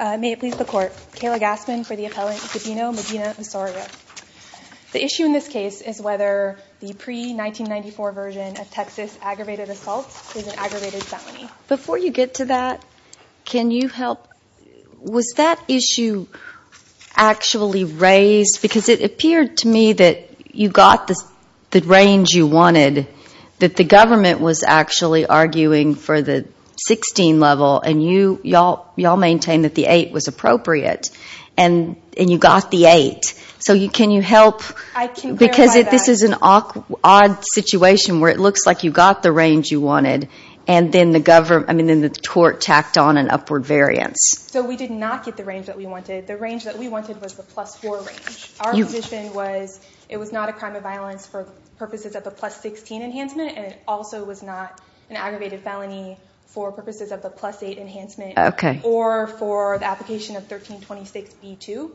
May it please the Court, Kayla Gassman for the appellant Gabino Medina Osorio. The issue in this case is whether the pre-1994 version of Texas aggravated assault is an aggravated felony. Before you get to that, can you help, was that issue actually raised? Because it appeared to me that you got the range you wanted, that the government was actually arguing for the 16 level, and you all maintain that the 8 was appropriate, and you got the 8. So can you help? I can clarify that. Because this is an odd situation where it looks like you got the range you wanted, and then the court tacked on an upward variance. So we did not get the range that we wanted. The range that we wanted was the plus 4 range. Our position was it was not a crime of violence for purposes of a plus 16 enhancement, and it also was not an aggravated felony for purposes of a plus 8 enhancement, or for the application of 1326B2.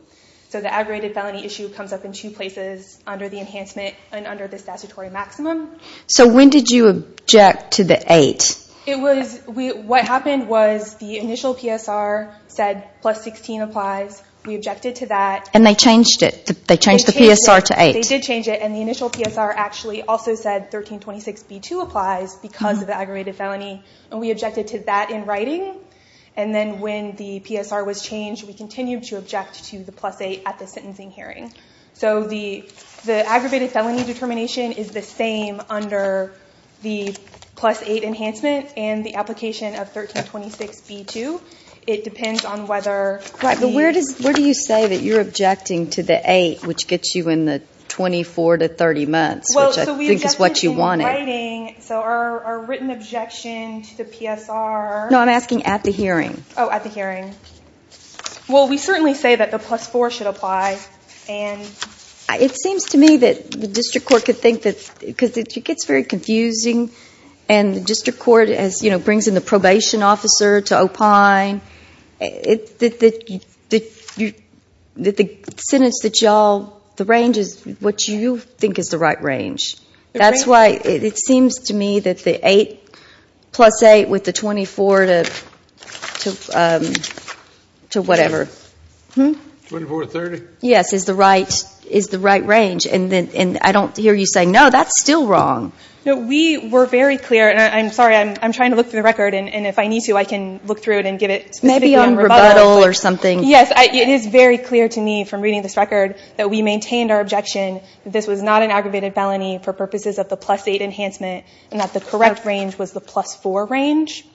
So the aggravated felony issue comes up in two places, under the enhancement and under the statutory maximum. So when did you object to the 8? What happened was the initial PSR said plus 16 applies, we objected to that. And they changed it, they changed the PSR to 8. They did change it, and the initial PSR actually also said 1326B2 applies because of the aggravated felony, and we objected to that in writing. And then when the PSR was changed, we continued to object to the plus 8 at the sentencing hearing. So the aggravated felony determination is the same under the plus 8 enhancement and the application of 1326B2. It depends on whether the... Where do you say that you're objecting to the 8, which gets you in the 24 to 30 months, which I think is what you wanted. So our written objection to the PSR... No, I'm asking at the hearing. Oh, at the hearing. Well, we certainly say that the plus 4 should apply. It seems to me that the district court could think that... Because it gets very confusing, and the district court brings in the probation officer to opine. The sentence that y'all... The range is what you think is the right range. That's why it seems to me that the 8 plus 8 with the 24 to whatever... 24 to 30? Yes, is the right range. And I don't hear you say, no, that's still wrong. We were very clear, and I'm sorry, I'm trying to look through the record, and if I need to, I can look through it and give it... Maybe on rebuttal or something. Yes, it is very clear to me from reading this record that we maintained our objection that this was not an aggravated felony for purposes of the plus 8 enhancement, and that the correct range was the plus 4 range.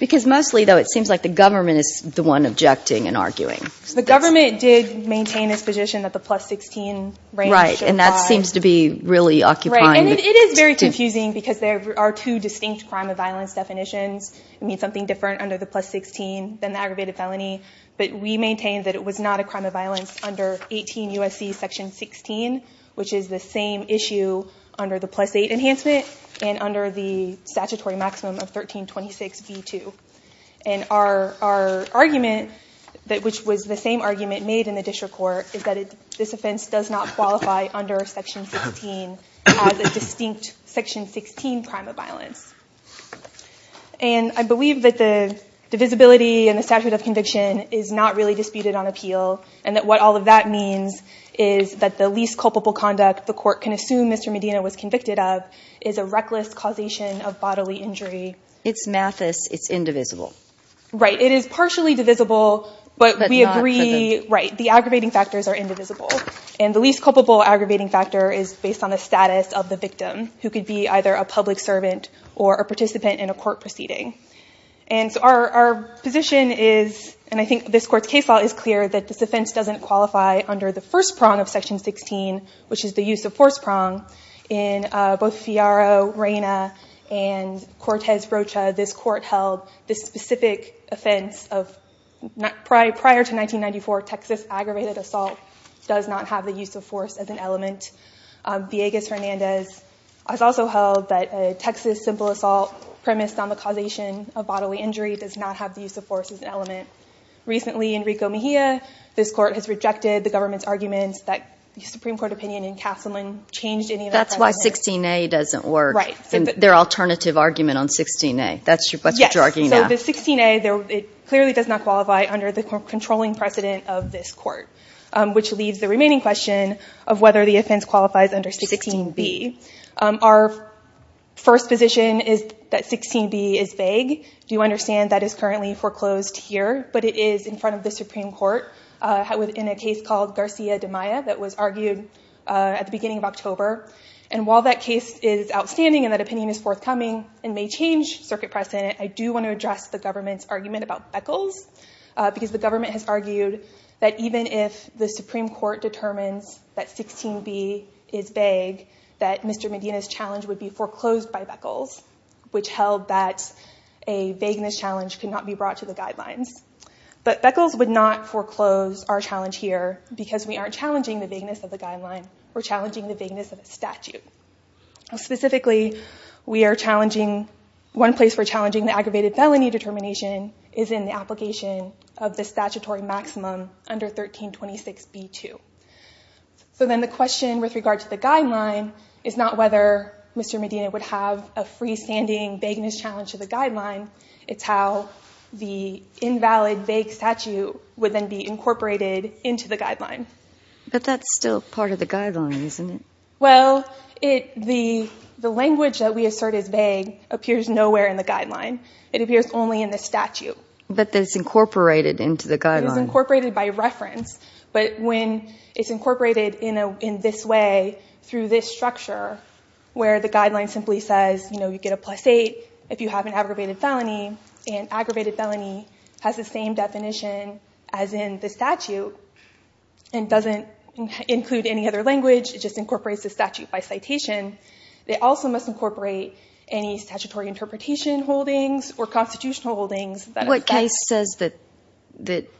Because mostly, though, it seems like the government is the one objecting and arguing. The government did maintain its position that the plus 16 range should apply. Right, and that seems to be really occupying... Right, and it is very confusing because there are two distinct crime of violence definitions. It means something different under the plus 16 than the aggravated felony, but we maintained that it was not a crime of violence under 18 U.S.C. section 16, which is the same issue under the plus 8 enhancement and under the statutory maximum of 1326b2. And our argument, which was the same argument made in the district court, is that this offense does not qualify under section 16 as a distinct section 16 crime of violence. And I believe that the divisibility and the statute of conviction is not really disputed on appeal, and that what all of that means is that the least culpable conduct the court can assume Mr. Medina was convicted of is a reckless causation of bodily injury. It's mathis. It's indivisible. Right. It is partially divisible, but we agree... But not... Right. The aggravating factors are indivisible. And the least culpable aggravating factor is based on the status of the victim, who could be either a public servant or a participant in a court proceeding. And so our position is, and I think this court's case law is clear, that this offense doesn't qualify under the first prong of section 16, which is the use of force prong in both Fioro, Reyna, and Cortez-Rocha. This court held this specific offense of prior to 1994, Texas aggravated assault does not have the use of force as an element. Villegas-Hernandez has also held that a Texas simple assault premised on the causation of bodily injury does not have the use of force as an element. Recently Enrico Mejia, this court has rejected the government's arguments that the Supreme Court opinion in Castleman changed any of that. That's why 16A doesn't work. Right. Their alternative argument on 16A. That's what you're arguing now. Yes. So the 16A, it clearly does not qualify under the controlling precedent of this court. Which leaves the remaining question of whether the offense qualifies under 16B. Our first position is that 16B is vague. You understand that is currently foreclosed here, but it is in front of the Supreme Court in a case called Garcia de Maya that was argued at the beginning of October. And while that case is outstanding and that opinion is forthcoming and may change circuit precedent, I do want to address the government's argument about Beckles because the government has argued that even if the Supreme Court determines that 16B is vague, that Mr. Medina's challenge would be foreclosed by Beckles, which held that a vagueness challenge could not be brought to the guidelines. But Beckles would not foreclose our challenge here because we aren't challenging the vagueness of the guideline. We're challenging the vagueness of the statute. Specifically we are challenging, one place we're challenging the aggravated felony determination is in the application of the statutory maximum under 1326B2. So then the question with regard to the guideline is not whether Mr. Medina would have a freestanding vagueness challenge to the guideline, it's how the invalid vague statute would then be incorporated into the guideline. But that's still part of the guideline, isn't it? Well, the language that we assert is vague appears nowhere in the guideline. It appears only in the statute. But it's incorporated into the guideline. It's incorporated by reference, but when it's incorporated in this way through this structure where the guideline simply says, you know, you get a plus eight if you have an aggravated felony, and aggravated felony has the same definition as in the statute and doesn't include any other language, it just incorporates the statute by citation, it also must incorporate any statutory interpretation holdings or constitutional holdings. What case says that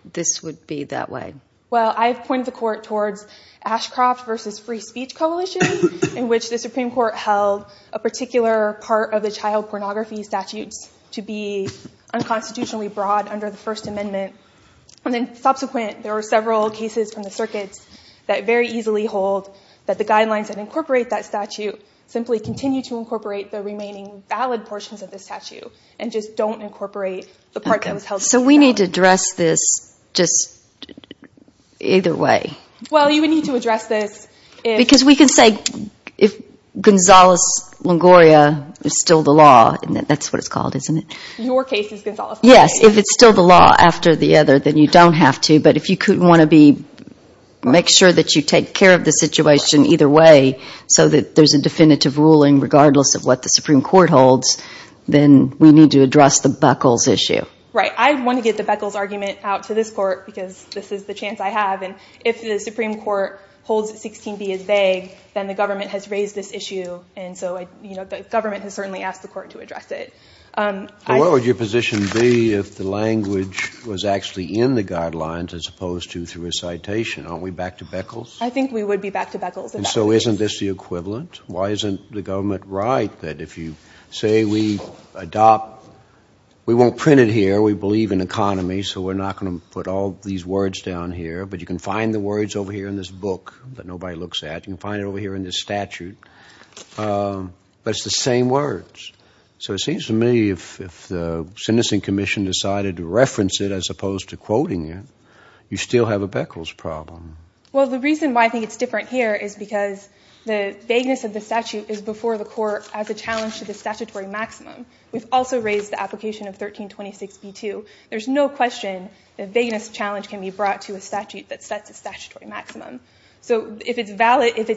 this would be that way? Well, I've pointed the court towards Ashcroft versus Free Speech Coalition in which the unconstitutionally broad under the First Amendment, and then subsequent there are several cases from the circuits that very easily hold that the guidelines that incorporate that statute simply continue to incorporate the remaining valid portions of the statute and just don't incorporate the part that was held. So we need to address this just either way. Well, you would need to address this. Because we can say if Gonzales-Longoria is still the law, and that's what it's called, isn't it? Your case is Gonzales-Longoria. Yes. If it's still the law after the other, then you don't have to, but if you couldn't want to be, make sure that you take care of the situation either way so that there's a definitive ruling regardless of what the Supreme Court holds, then we need to address the Beckles issue. Right. I want to get the Beckles argument out to this court because this is the chance I have, and if the Supreme Court holds that 16b is vague, then the government has raised this issue, and so the government has certainly asked the court to address it. So what would your position be if the language was actually in the guidelines as opposed to through a citation? Aren't we back to Beckles? I think we would be back to Beckles. So isn't this the equivalent? Why isn't the government right that if you say we adopt, we won't print it here, we believe in economy, so we're not going to put all these words down here, but you can find the words over here in this book that nobody looks at. You can find it over here in this statute, but it's the same words. So it seems to me if the sentencing commission decided to reference it as opposed to quoting it, you still have a Beckles problem. Well, the reason why I think it's different here is because the vagueness of the statute is before the court as a challenge to the statutory maximum. We've also raised the application of 1326B2. There's no question that vagueness challenge can be brought to a statute that sets a statutory maximum. So if it's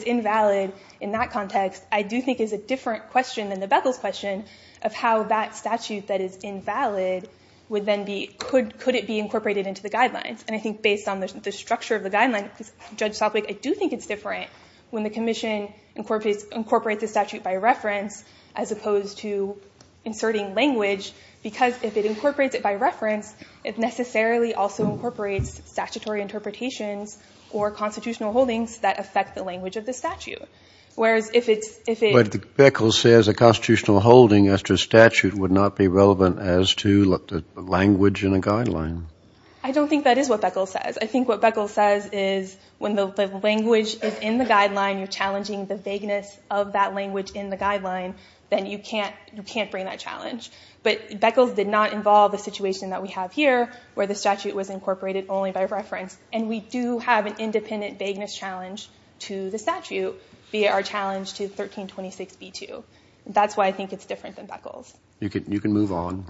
invalid in that context, I do think it's a different question than the Beckles question of how that statute that is invalid would then be, could it be incorporated into the guidelines? And I think based on the structure of the guidelines, Judge Sopwith, I do think it's different when the commission incorporates the statute by reference as opposed to inserting language, because if it incorporates it by reference, it necessarily also incorporates statutory interpretations or constitutional holdings that affect the language of the statute. Whereas if it's- But Beckles says a constitutional holding as to a statute would not be relevant as to language in a guideline. I don't think that is what Beckles says. I think what Beckles says is when the language is in the guideline, you're challenging the vagueness of that language in the guideline, then you can't bring that challenge. But Beckles did not involve the situation that we have here where the statute was incorporated only by reference. And we do have an independent vagueness challenge to the statute via our challenge to 1326B2. That's why I think it's different than Beckles. You can move on.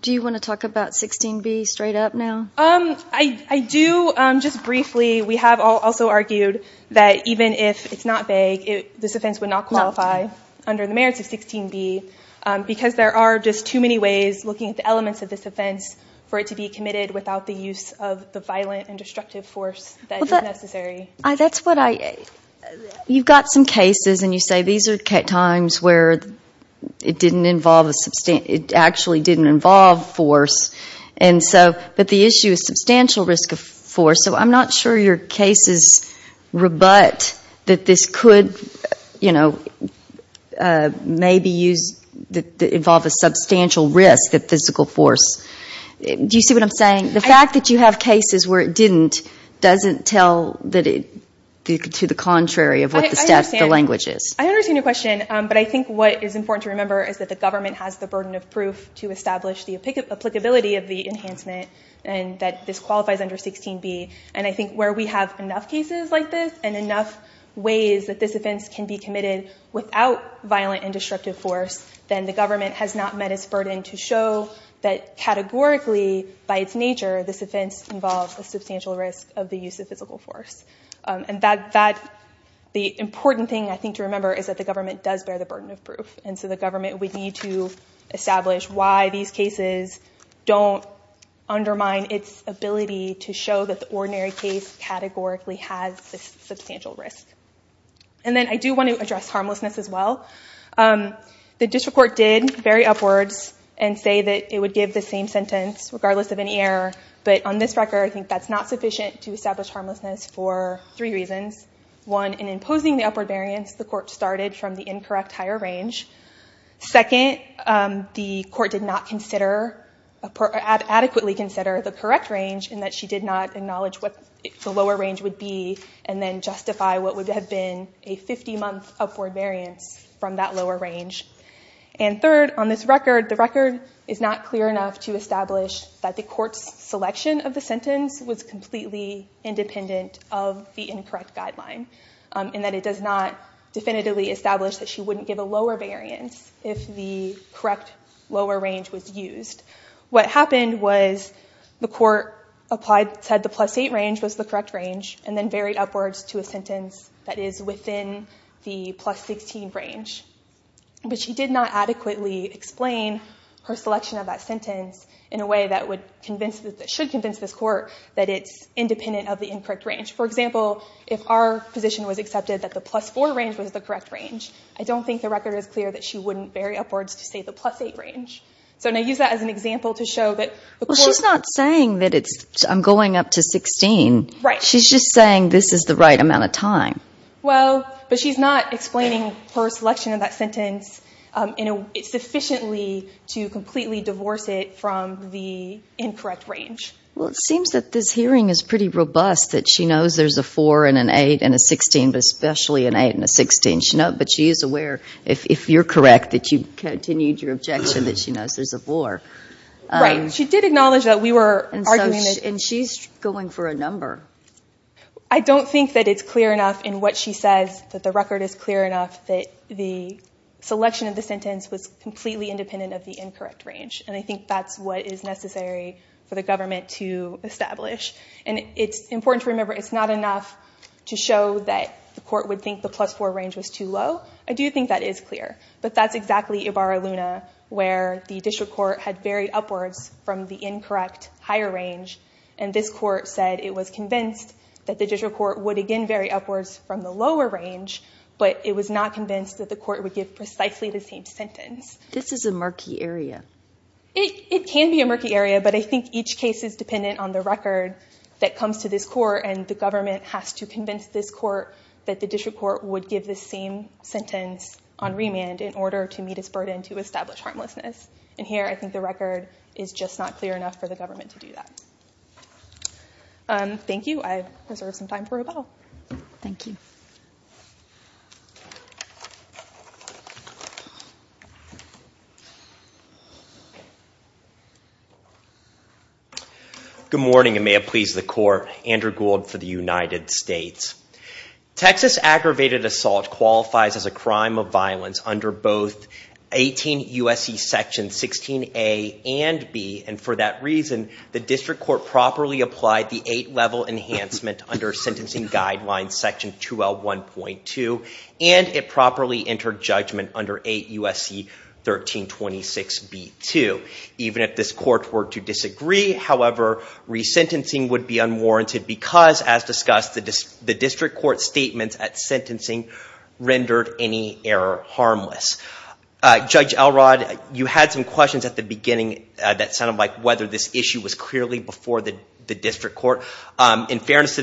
Do you want to talk about 16B straight up now? I do. Just briefly, we have also argued that even if it's not vague, this offense would not qualify under the merits of 16B, because there are just too many ways, looking at the elements of this offense, for it to be committed without the use of the violent and destructive force that is necessary. That's what I- You've got some cases, and you say these are times where it actually didn't involve force, but the issue is substantial risk of force. So I'm not sure your cases rebut that this could maybe involve a substantial risk of physical force. Do you see what I'm saying? The fact that you have cases where it didn't doesn't tell that it's to the contrary of what the status of the language is. I understand your question. But I think what is important to remember is that the government has the burden of proof to establish the applicability of the enhancement, and that this qualifies under 16B. And I think where we have enough cases like this, and enough ways that this offense can be committed without violent and destructive force, then the government has not met its burden to show that categorically, by its nature, this offense involves a substantial risk of the use of physical force. And the important thing, I think, to remember is that the government does bear the burden of proof. And so the government would need to establish why these cases don't undermine its ability to show that the ordinary case categorically has a substantial risk. And then I do want to address harmlessness as well. The district court did vary upwards and say that it would give the same sentence regardless of any error. But on this record, I think that's not sufficient to establish harmlessness for three reasons. One, in imposing the upward variance, the court started from the incorrect higher range. Second, the court did not adequately consider the correct range, in that she did not acknowledge what the lower range would be, and then justify what would have been a 50-month upward variance from that lower range. And third, on this record, the record is not clear enough to establish that the court's independent of the incorrect guideline, and that it does not definitively establish that she wouldn't give a lower variance if the correct lower range was used. What happened was the court said the plus 8 range was the correct range, and then varied upwards to a sentence that is within the plus 16 range. But she did not adequately explain her selection of that sentence in a way that should convince this court that it's independent of the incorrect range. For example, if our position was accepted that the plus 4 range was the correct range, I don't think the record is clear that she wouldn't vary upwards to, say, the plus 8 range. So, and I use that as an example to show that the court- She's not saying that it's, I'm going up to 16. Right. She's just saying this is the right amount of time. Well, but she's not explaining her selection of that sentence sufficiently to completely divorce it from the incorrect range. Well, it seems that this hearing is pretty robust, that she knows there's a 4 and an 8 and a 16, but especially an 8 and a 16. But she is aware, if you're correct, that you continued your objection that she knows there's a 4. Right. She did acknowledge that we were arguing that- And she's going for a number. I don't think that it's clear enough in what she says that the record is clear enough that the selection of the sentence was completely independent of the incorrect range. And I think that's what is necessary for the government to establish. And it's important to remember, it's not enough to show that the court would think the plus 4 range was too low. I do think that is clear, but that's exactly Ibarra-Luna, where the district court had varied upwards from the incorrect higher range. And this court said it was convinced that the district court would, again, vary upwards from the lower range, but it was not convinced that the court would give precisely the same sentence. This is a murky area. It can be a murky area, but I think each case is dependent on the record that comes to this court, and the government has to convince this court that the district court would give the same sentence on remand in order to meet its burden to establish harmlessness. And here, I think the record is just not clear enough for the government to do that. Thank you. I reserve some time for rebuttal. Thank you. Good morning, and may it please the court. Andrew Gould for the United States. Texas aggravated assault qualifies as a crime of violence under both 18 U.S.C. Section 16A and B, and for that reason, the district court properly applied the eight level enhancement under sentencing guidelines section 2L1.2, and it properly entered judgment under 8 U.S.C. 1326B.2. Even if this court were to disagree, however, resentencing would be unwarranted because, as discussed, the district court's statement at sentencing rendered any error harmless. Judge Elrod, you had some questions at the beginning that sounded like whether this issue was clearly before the district court. In fairness to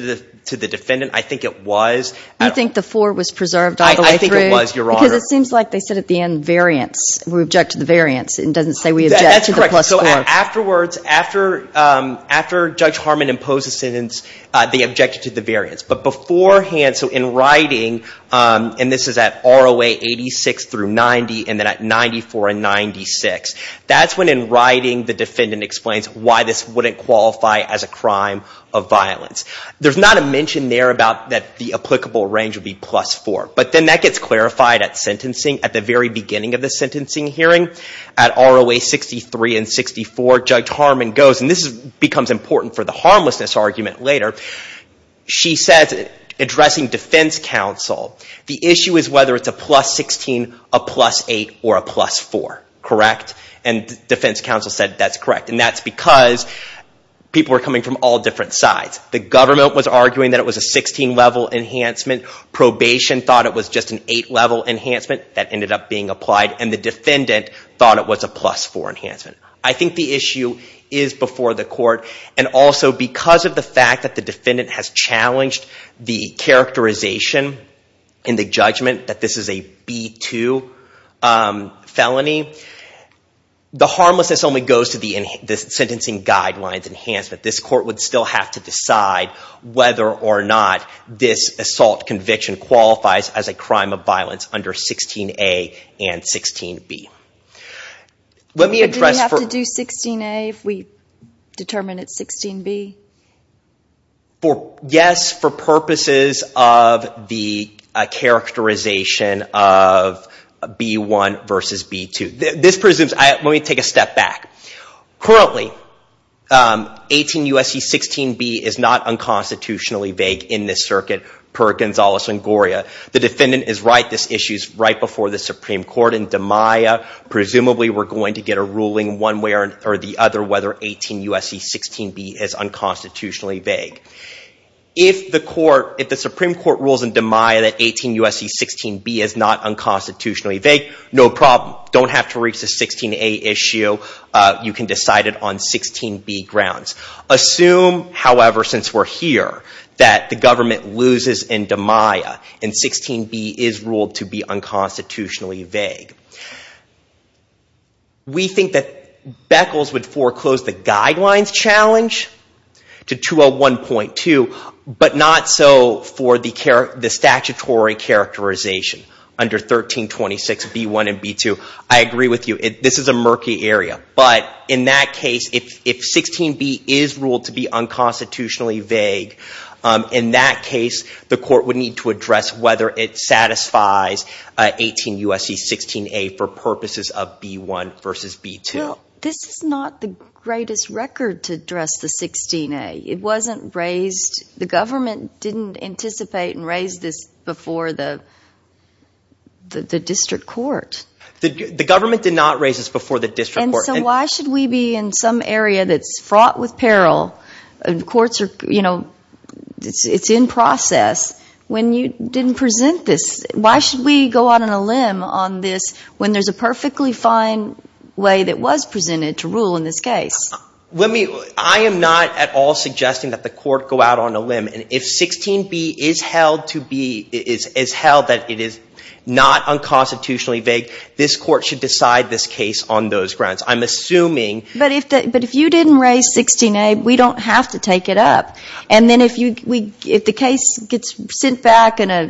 the defendant, I think it was. You think the four was preserved all the way through? I think it was, Your Honor. It seems like they said at the end variance. We object to the variance. It doesn't say we object to the plus four. Afterwards, after Judge Harmon imposed the sentence, they objected to the variance. But beforehand, so in writing, and this is at ROA 86 through 90, and then at 94 and 96, that's when in writing the defendant explains why this wouldn't qualify as a crime of violence. There's not a mention there about that the applicable range would be plus four, but then that gets clarified at sentencing at the very beginning of the sentencing hearing. At ROA 63 and 64, Judge Harmon goes, and this becomes important for the harmlessness argument later, she says, addressing defense counsel, the issue is whether it's a plus 16, a plus eight, or a plus four. Correct? And defense counsel said that's correct. And that's because people are coming from all different sides. The government was arguing that it was a 16-level enhancement. Probation thought it was just an eight-level enhancement. That ended up being applied. And the defendant thought it was a plus four enhancement. I think the issue is before the court. And also, because of the fact that the defendant has challenged the characterization in the judgment that this is a B2 felony, the harmlessness only goes to the sentencing guidelines enhancement. This court would still have to decide whether or not this assault conviction qualifies as a crime of violence under 16-A and 16-B. Would we have to do 16-A if we determined it's 16-B? Yes, for purposes of the characterization of B1 versus B2. Let me take a step back. Currently, 18 U.S.C. 16-B is not unconstitutionally vague in this circuit per Gonzalez-Sangoria. The defendant is right. This issue is right before the Supreme Court. In DiMaia, presumably, we're going to get a ruling one way or the other whether 18 U.S.C. 16-B is unconstitutionally vague. If the Supreme Court rules in DiMaia that 18 U.S.C. 16-B is not unconstitutionally vague, no problem. Don't have to reach the 16-A issue. You can decide it on 16-B grounds. Assume, however, since we're here, that the government loses in DiMaia and 16-B is ruled to be unconstitutionally vague. We think that Beckles would foreclose the guidelines challenge to 201.2, but not so for the statutory characterization under 1326 B-1 and B-2. I agree with you. This is a murky area, but in that case, if 16-B is ruled to be unconstitutionally vague, in that case, the court would need to address whether it satisfies 18 U.S.C. 16-A for purposes of B-1 versus B-2. This is not the greatest record to address the 16-A. It wasn't raised. The government didn't anticipate and raise this before the district court. The government did not raise this before the district court. And so why should we be in some area that's fraught with peril? Courts are, you know, it's in process. When you didn't present this, why should we go out on a limb on this when there's a perfectly fine way that was presented to rule in this case? Let me, I am not at all suggesting that the court go out on a limb. And if 16-B is held to be, is held that it is not unconstitutionally vague, this court should decide this case on those grounds. I'm assuming. But if you didn't raise 16-A, we don't have to take it up. And then if the case gets sent back in a,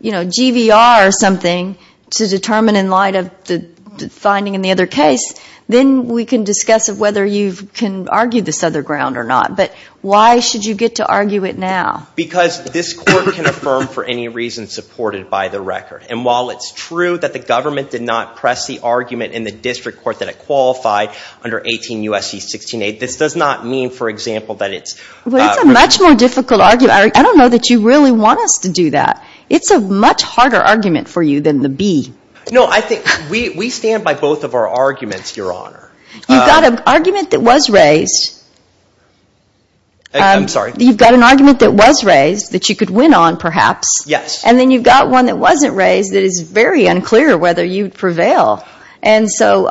you know, GVR or something to determine in the other case, then we can discuss of whether you can argue this other ground or not. But why should you get to argue it now? Because this court can affirm for any reason supported by the record. And while it's true that the government did not press the argument in the district court that it qualified under 18 U.S.C. 16-A, this does not mean, for example, that it's. Well, it's a much more difficult argument. I don't know that you really want us to do that. It's a much harder argument for you than the B. No, I think we stand by both of our arguments, Your Honor. You've got an argument that was raised. I'm sorry. You've got an argument that was raised that you could win on, perhaps. Yes. And then you've got one that wasn't raised that is very unclear whether you'd prevail. And so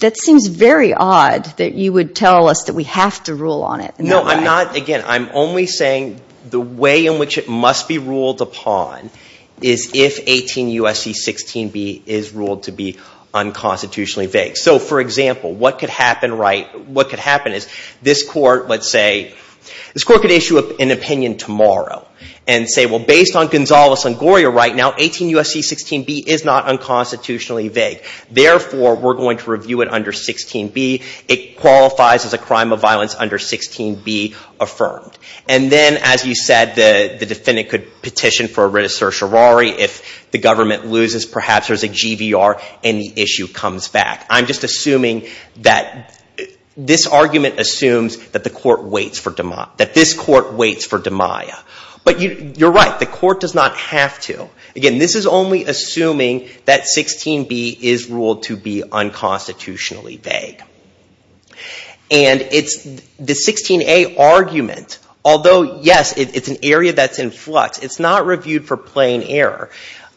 that seems very odd that you would tell us that we have to rule on it. No, I'm not. The way in which it must be ruled upon is if 18 U.S.C. 16-B is ruled to be unconstitutionally vague. So for example, what could happen is this court could issue an opinion tomorrow and say, well, based on Gonzales and Goyer right now, 18 U.S.C. 16-B is not unconstitutionally vague. Therefore, we're going to review it under 16-B. It qualifies as a crime of violence under 16-B affirmed. And then, as you said, the defendant could petition for a writ of certiorari. If the government loses, perhaps there's a GVR and the issue comes back. I'm just assuming that this argument assumes that this court waits for DiMaia. But you're right. The court does not have to. Again, this is only assuming that 16-B is ruled to be unconstitutionally vague. And the 16-A argument, although, yes, it's an area that's in flux, it's not reviewed for plain error.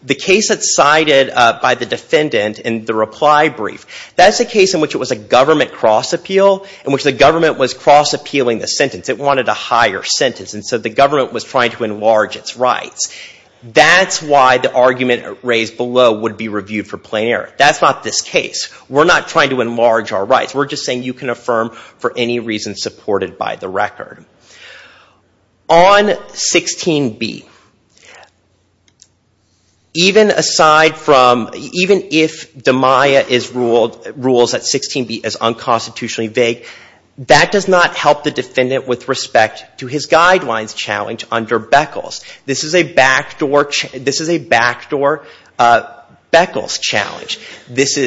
The case that's cited by the defendant in the reply brief, that's a case in which it was a government cross-appeal, in which the government was cross-appealing the sentence. It wanted a higher sentence. And so the government was trying to enlarge its rights. That's why the argument raised below would be reviewed for plain error. That's not this case. We're not trying to enlarge our rights. We're just saying you can affirm for any reason supported by the record. On 16-B, even if DiMaia rules that 16-B is unconstitutionally vague, that does not help the defendant with respect to his guidelines challenge under Beckles. This is a backdoor Beckles challenge. This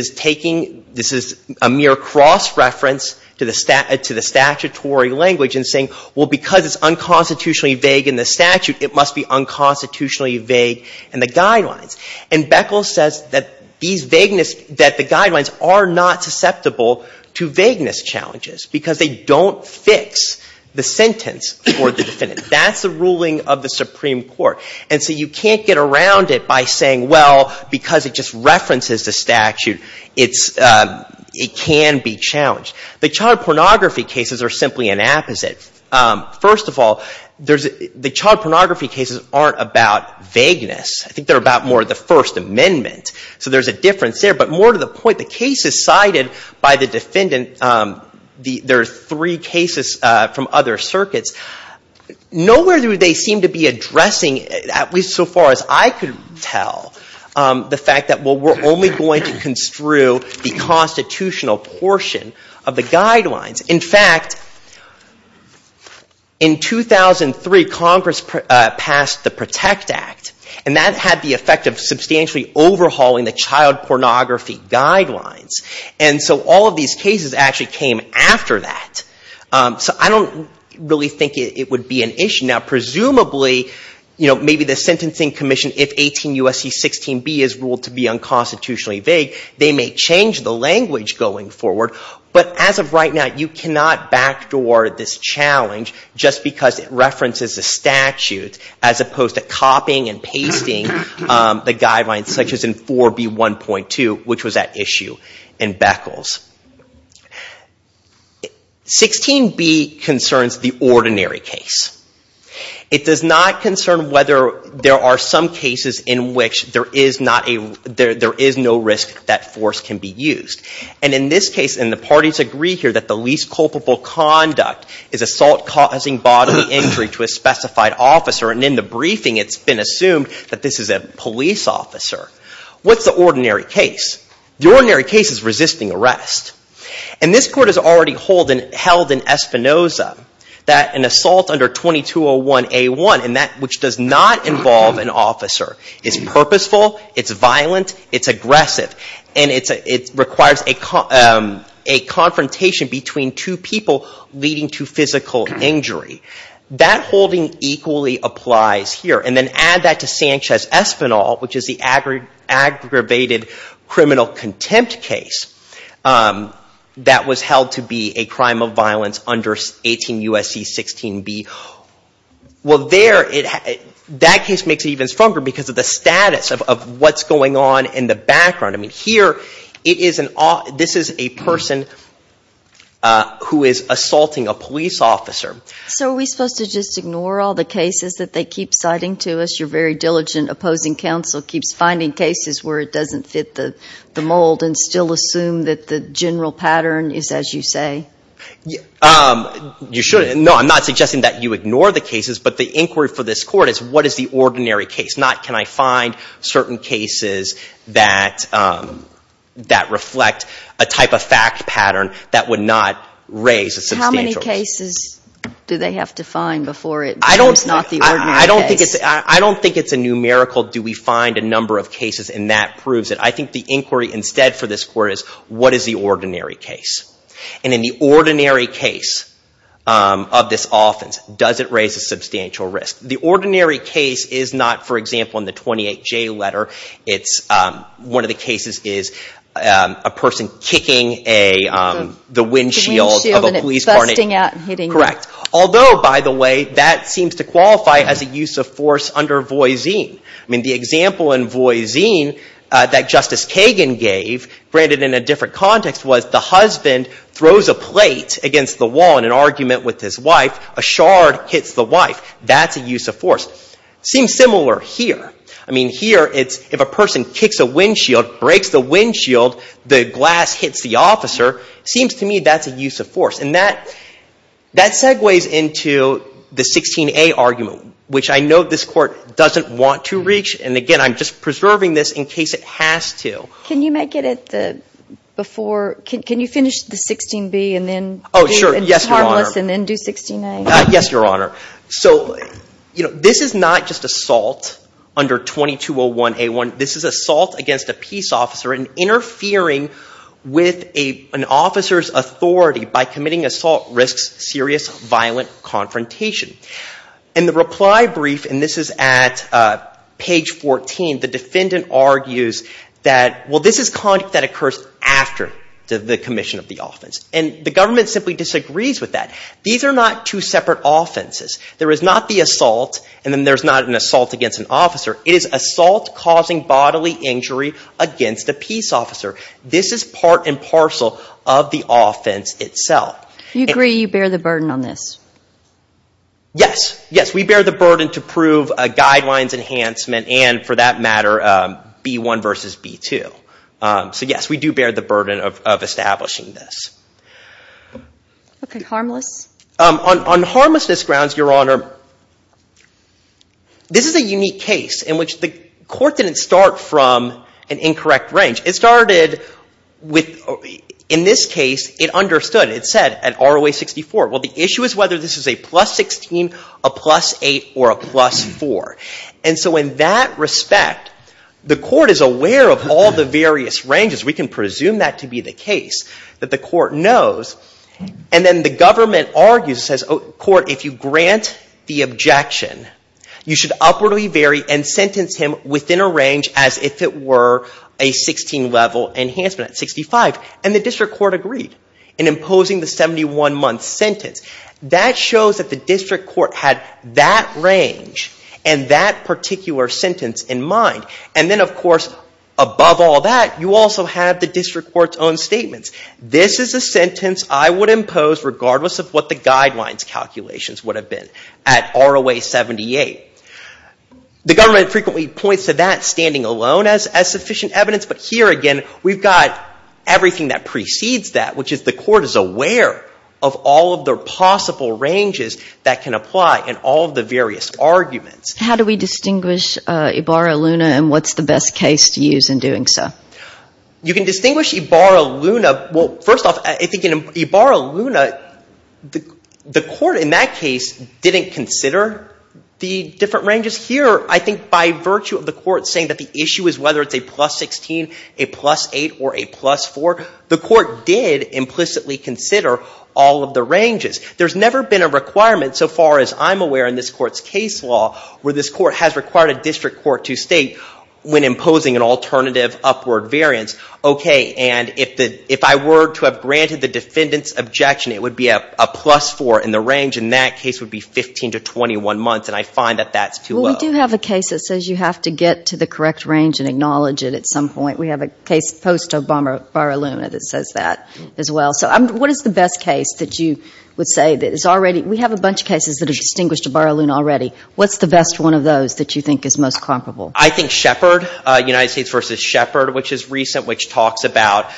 is a mere cross-reference to the statutory language and saying, well, because it's unconstitutionally vague in the statute, it must be unconstitutionally vague in the guidelines. And Beckles says that the guidelines are not susceptible to vagueness challenges because they don't fix the sentence for the defendant. That's the ruling of the Supreme Court. And so you can't get around it by saying, well, because it just references the statute, it can be challenged. The child pornography cases are simply an opposite. First of all, the child pornography cases aren't about vagueness. I think they're about more of the First Amendment. So there's a difference there. But more to the point, the case is cited by the defendant. There are three cases from other circuits. Nowhere do they seem to be addressing, at least so far as I can tell, the fact that, well, we're only going to construe the constitutional portion of the guidelines. In fact, in 2003, Congress passed the PROTECT Act. And that had the effect of substantially overhauling the child pornography guidelines. And so all of these cases actually came after that. So I don't really think it would be an issue. Now, presumably, maybe the Sentencing Commission, if 18 U.S.C. 16B is ruled to be unconstitutionally vague, they may change the language going forward. But as of right now, you cannot backdoor this challenge just because it references the statute as opposed to copying and pasting the guidelines, such as in 4B1.2, which was at issue in Beckles. 16B concerns the ordinary case. It does not concern whether there are some cases in which there is no risk that force can be used. And in this case, and the parties agree here that the least culpable conduct is assault causing bodily injury to a specified officer. And in the briefing, it's been assumed that this is a police officer. What's the ordinary case? The ordinary case is resisting arrest. And this court has already held in Espinoza that an assault under 2201A1, which does not involve an officer, is purposeful. It's violent. It's aggressive. And it requires a confrontation between two people leading to physical injury. That holding equally applies here. And then add that to Sanchez-Espinal, which is the aggravated criminal contempt case that was held to be a crime of violence under 18 U.S.C. 16B. Well, there, that case makes it even stronger because of the status of what's going on in the background. I mean, here, this is a person who is assaulting a police officer. So are we supposed to just ignore all the cases that they keep citing to us? Your very diligent opposing counsel keeps finding cases where it doesn't fit the mold and still assume that the general pattern is as you say? You shouldn't. No, I'm not suggesting that you ignore the cases. But the inquiry for this court is what is the ordinary case? Not can I find certain cases that reflect a type of fact pattern that would not raise a substantial case. Do they have to find before it becomes not the ordinary case? I don't think it's a numerical do we find a number of cases and that proves it. I think the inquiry instead for this court is what is the ordinary case? And in the ordinary case of this offense, does it raise a substantial risk? The ordinary case is not, for example, in the 28J letter, it's one of the cases is a person kicking the windshield of a police car. Correct. Although, by the way, that seems to qualify as a use of force under Voisin. I mean, the example in Voisin that Justice Kagan gave, granted in a different context, was the husband throws a plate against the wall in an argument with his wife. A shard hits the wife. That's a use of force. Seems similar here. I mean, here it's if a person kicks a windshield, breaks the windshield, the glass hits the officer, seems to me that's a use of force. And that segues into the 16A argument, which I know this court doesn't want to reach. And again, I'm just preserving this in case it has to. Can you make it at the before? Can you finish the 16B and then harmless and then do 16A? Yes, Your Honor. So this is not just assault under 2201A1. This is assault against a peace officer and interfering with an officer's authority by assault risks serious violent confrontation. In the reply brief, and this is at page 14, the defendant argues that, well, this is conduct that occurs after the commission of the offense. And the government simply disagrees with that. These are not two separate offenses. There is not the assault and then there's not an assault against an officer. It is assault causing bodily injury against a peace officer. This is part and parcel of the offense itself. You agree you bear the burden on this? Yes. Yes, we bear the burden to prove a guidelines enhancement and, for that matter, B1 versus B2. So yes, we do bear the burden of establishing this. OK, harmless? On harmlessness grounds, Your Honor, this is a unique case in which the court didn't start from an incorrect range. It started with, in this case, it understood. It said at ROA-64, well, the issue is whether this is a plus 16, a plus 8, or a plus 4. And so in that respect, the court is aware of all the various ranges. We can presume that to be the case that the court knows. And then the government argues, says, oh, court, if you grant the objection, you should upwardly vary and sentence him within a range as if it were a 16-level enhancement at 65. And the district court agreed in imposing the 71-month sentence. That shows that the district court had that range and that particular sentence in mind. And then, of course, above all that, you also have the district court's own statements. This is a sentence I would impose regardless of what the guidelines calculations would have been at ROA-78. The government frequently points to that standing alone as sufficient evidence. But here again, we've got everything that precedes that, which is the court is aware of all of the possible ranges that can apply in all of the various arguments. How do we distinguish Ibarra-Luna and what's the best case to use in doing so? You can distinguish Ibarra-Luna, well, first off, I think in Ibarra-Luna, the court in that case didn't consider the different ranges. Here, I think by virtue of the court saying that the issue is whether it's a plus 16, a plus 8, or a plus 4, the court did implicitly consider all of the ranges. There's never been a requirement so far as I'm aware in this court's case law where this court has required a district court to state when imposing an alternative upward variance, okay, and if I were to have granted the defendant's objection, it would be a plus 4 in the range, and that case would be 15 to 21 months, and I find that that's too low. We do have a case that says you have to get to the correct range and acknowledge it at some point. We have a case post-Ibarra-Luna that says that as well. So what is the best case that you would say that is already, we have a bunch of cases that have distinguished Ibarra-Luna already. What's the best one of those that you think is most comparable? I think Shepard, United States v. Shepard, which is recent, which talks about,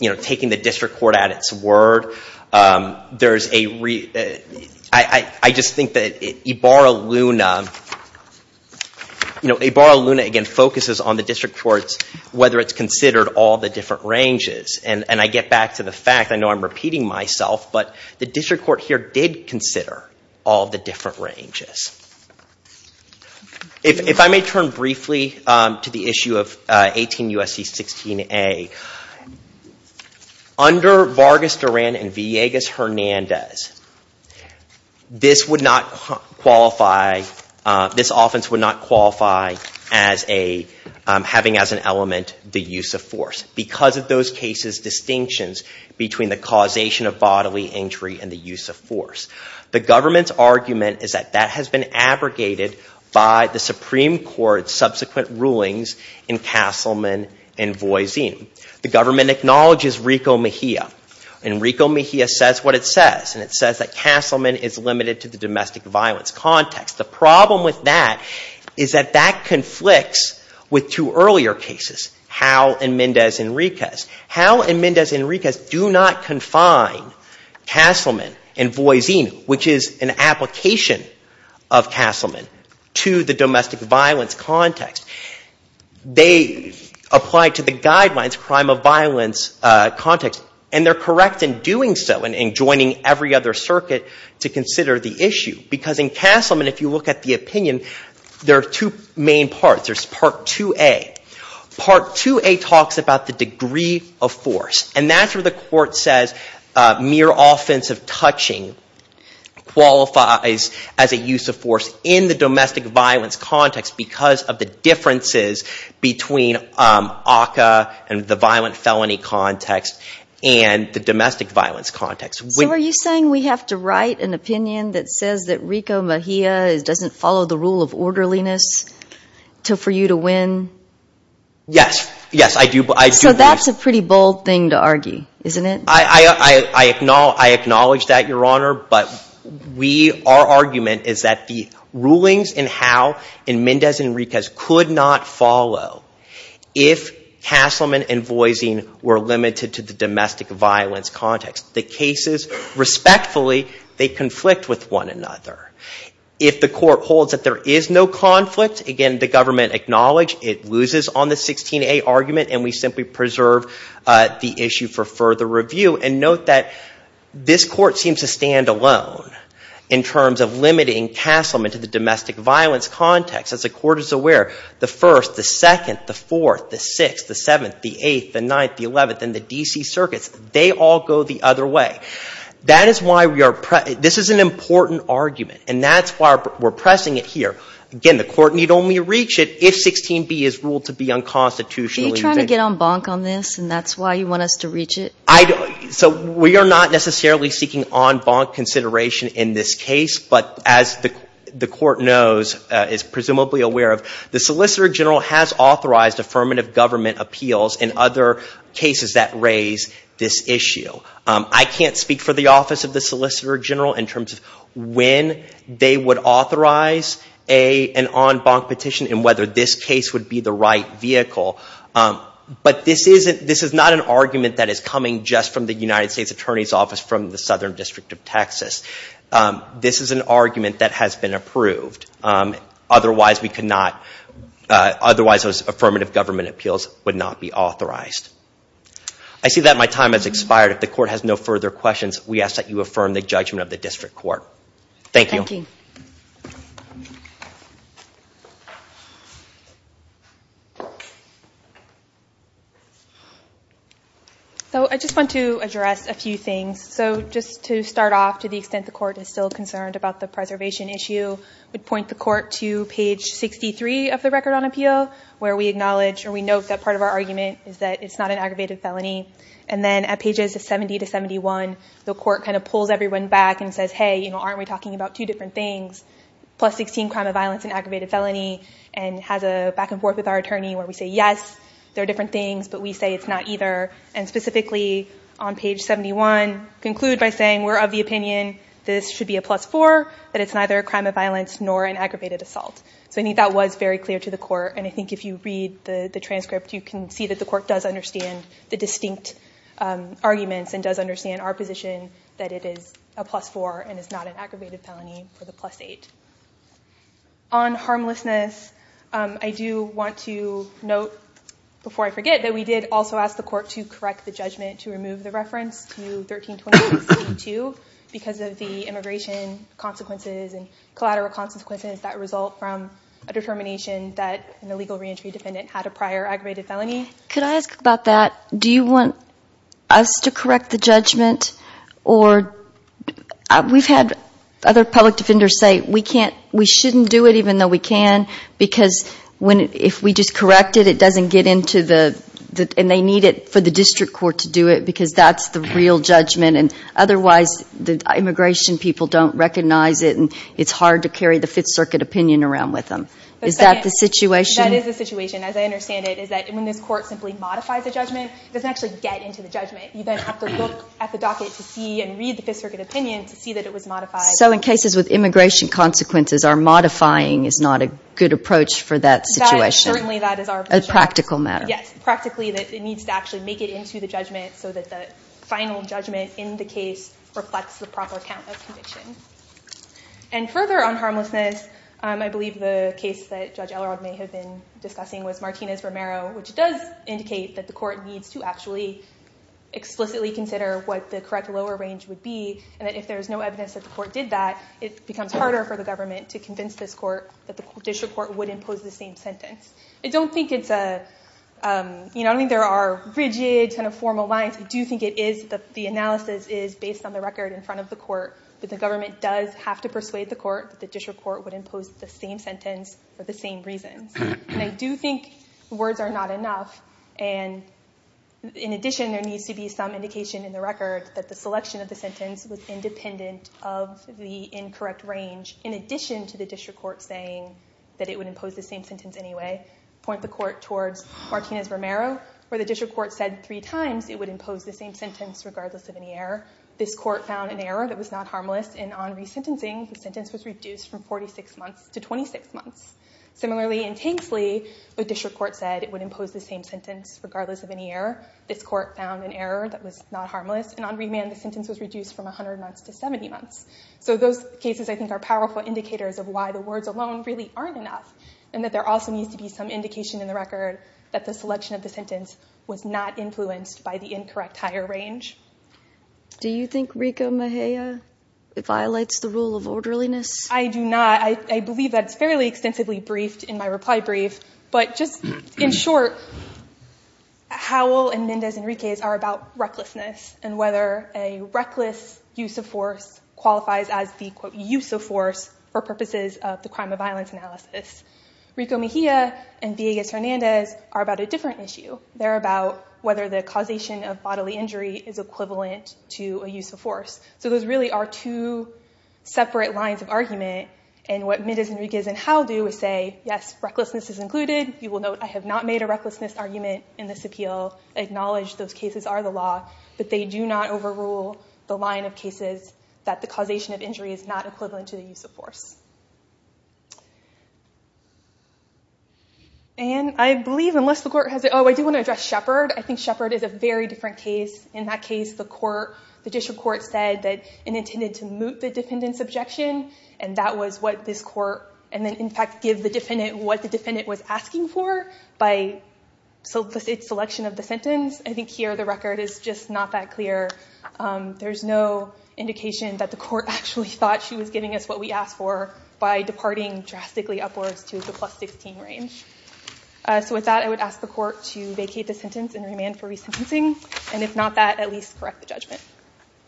you know, taking the district court at its word. There's a, I just think that Ibarra-Luna, you know, Ibarra-Luna again focuses on the district courts whether it's considered all the different ranges, and I get back to the fact, I know I'm repeating myself, but the district court here did consider all the different ranges. If I may turn briefly to the issue of 18 U.S.C. 16a, under Vargas-Duran and Villegas-Hernandez, this offense would not qualify as having as an element the use of force because of those cases' distinctions between the causation of bodily injury and the use of force. The government's argument is that that has been abrogated by the Supreme Court's subsequent rulings in Castleman and Voisin. The government acknowledges Rico Mejia, and Rico Mejia says what it says, and it says that Castleman is limited to the domestic violence context. The problem with that is that that conflicts with two earlier cases, Howe and Mendez-Enriquez. Howe and Mendez-Enriquez do not confine Castleman and Voisin, which is an application of Castleman, to the domestic violence context. They apply to the guidelines crime of violence context, and they're correct in doing so and in joining every other circuit to consider the issue. Because in Castleman, if you look at the opinion, there are two main parts. Part 2A talks about the degree of force, and that's where the court says mere offensive touching qualifies as a use of force in the domestic violence context because of the differences between ACCA and the violent felony context and the domestic violence context. So are you saying we have to write an opinion that says that Rico Mejia doesn't follow the rule of orderliness for you to win? Yes. Yes, I do. So that's a pretty bold thing to argue, isn't it? I acknowledge that, Your Honor. But our argument is that the rulings in Howe and Mendez-Enriquez could not follow if Castleman and Voisin were limited to the domestic violence context. The cases, respectfully, they conflict with one another. If the court holds that there is no conflict, again, the government acknowledged it loses on the 16A argument, and we simply preserve the issue for further review. And note that this court seems to stand alone in terms of limiting Castleman to the domestic violence context. As the court is aware, the 1st, the 2nd, the 4th, the 6th, the 7th, the 8th, the 9th, the 11th, and the D.C. circuits, they all go the other way. That is why we are, this is an important argument, and that's why we're pressing it here. Again, the court need only reach it if 16B is ruled to be unconstitutional. Are you trying to get en banc on this, and that's why you want us to reach it? So we are not necessarily seeking en banc consideration in this case, but as the court knows, is presumably aware of, the Solicitor General has authorized affirmative government appeals in other cases that raise this issue. I can't speak for the Office of the Solicitor General in terms of when they would authorize an en banc petition and whether this case would be the right vehicle, but this is not an argument that is coming just from the United States Attorney's Office from the Southern District of Texas. This is an argument that has been approved. Otherwise, we could not, otherwise those affirmative government appeals would not be authorized. I see that my time has expired. If the court has no further questions, we ask that you affirm the judgment of the district court. Thank you. So I just want to address a few things. So just to start off, to the extent the court is still concerned about the preservation issue, would point the court to page 63 of the Record on Appeal, where we acknowledge or we note that part of our argument is that it's not an aggravated felony. And then at pages 70 to 71, the court kind of pulls everyone back and says, hey, you know, aren't we talking about two different things? Plus 16, crime of violence and aggravated felony, and has a back and forth with our attorney where we say, yes, they're different things, but we say it's not either. And specifically on page 71, conclude by saying we're of the opinion, this should be a plus four, that it's neither a crime of violence nor an aggravated assault. So I think that was very clear to the court. And I think if you read the transcript, you can see that the court does understand the distinct arguments and does understand our position that it is a plus four and is not an aggravated felony for the plus eight. On harmlessness, I do want to note, before I forget, that we did also ask the court to correct the judgment to remove the reference to 1326-2 because of the immigration consequences and collateral consequences that result from a determination that an illegal reentry defendant had a prior aggravated felony. Could I ask about that? Do you want us to correct the judgment? Or we've had other public defenders say we can't, we shouldn't do it even though we can because if we just correct it, it doesn't get into the, and they need it for the district court to do it because that's the real judgment. And otherwise, the immigration people don't recognize it and it's hard to carry the Fifth Circuit opinion around with them. Is that the situation? That is the situation, as I understand it, is that when this court simply modifies a judgment, it doesn't actually get into the judgment. You then have to look at the docket to see and read the Fifth Circuit opinion to see that it was modified. So in cases with immigration consequences, our modifying is not a good approach for that situation? Certainly that is our position. A practical matter. Yes, practically that it needs to actually make it into the judgment so that the final judgment in the case reflects the proper count of conviction. And further on harmlessness, I believe the case that Judge Elrod may have been discussing was Martinez-Romero, which does indicate that the court needs to actually explicitly consider what the correct lower range would be and that if there's no evidence that the court did that, it becomes harder for the government to convince this court that the district court would impose the same sentence. I don't think it's a, I don't think there are rigid kind of formal lines. I do think it is, the analysis is based on the record in front of the court that the government does have to persuade the court that the district court would impose the same sentence for the same reasons. And I do think words are not enough. And in addition, there needs to be some indication in the record that the selection of the sentence was independent of the incorrect range in addition to the district court saying that it would impose the same sentence anyway. Point the court towards Martinez-Romero, where the district court said three times it would impose the same sentence regardless of any error. This court found an error that was not harmless, and on resentencing, the sentence was reduced from 46 months to 26 months. Similarly, in Tanksley, the district court said it would impose the same sentence regardless of any error. This court found an error that was not harmless, and on remand, the sentence was reduced from 100 months to 70 months. So those cases, I think, are powerful indicators of why the words alone really aren't enough and that there also needs to be some indication in the record that the selection of the sentence was not influenced by the incorrect higher range. Do you think Rico Mejia violates the rule of orderliness? I do not. I believe that's fairly extensively briefed in my reply brief. But just in short, Howell and Mendez Enriquez are about recklessness and whether a reckless use of force qualifies as the, quote, use of force for purposes of the crime of violence analysis. Rico Mejia and Villegas Hernandez are about a different issue. They're about whether the causation of bodily injury is equivalent to a use of force. So those really are two separate lines of argument. And what Mendez Enriquez and Howell do is say, yes, recklessness is included. You will note I have not made a recklessness argument in this appeal. I acknowledge those cases are the law. But they do not overrule the line of cases that the causation of injury is not equivalent to the use of force. And I believe, unless the court has it, oh, I do want to address Shepard. I think Shepard is a very different case. In that case, the court, the district court said that it intended to moot the defendant's objection. And that was what this court, and then, in fact, give the defendant what the defendant was asking for by its selection of the sentence. I think here, the record is just not that clear. There's no indication that the court actually thought she was giving us what we asked for. By departing drastically upwards to the plus 16 range. So with that, I would ask the court to vacate the sentence and remand for resentencing. And if not that, at least correct the judgment.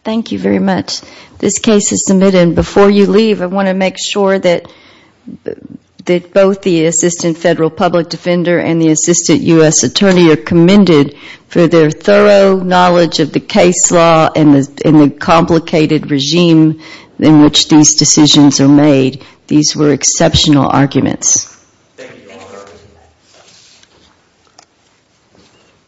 Thank you very much. This case is submitted. And before you leave, I want to make sure that both the Assistant Federal Public Defender and the Assistant US Attorney are commended for their thorough knowledge of the case law and the complicated regime in which these decisions are made. These were exceptional arguments.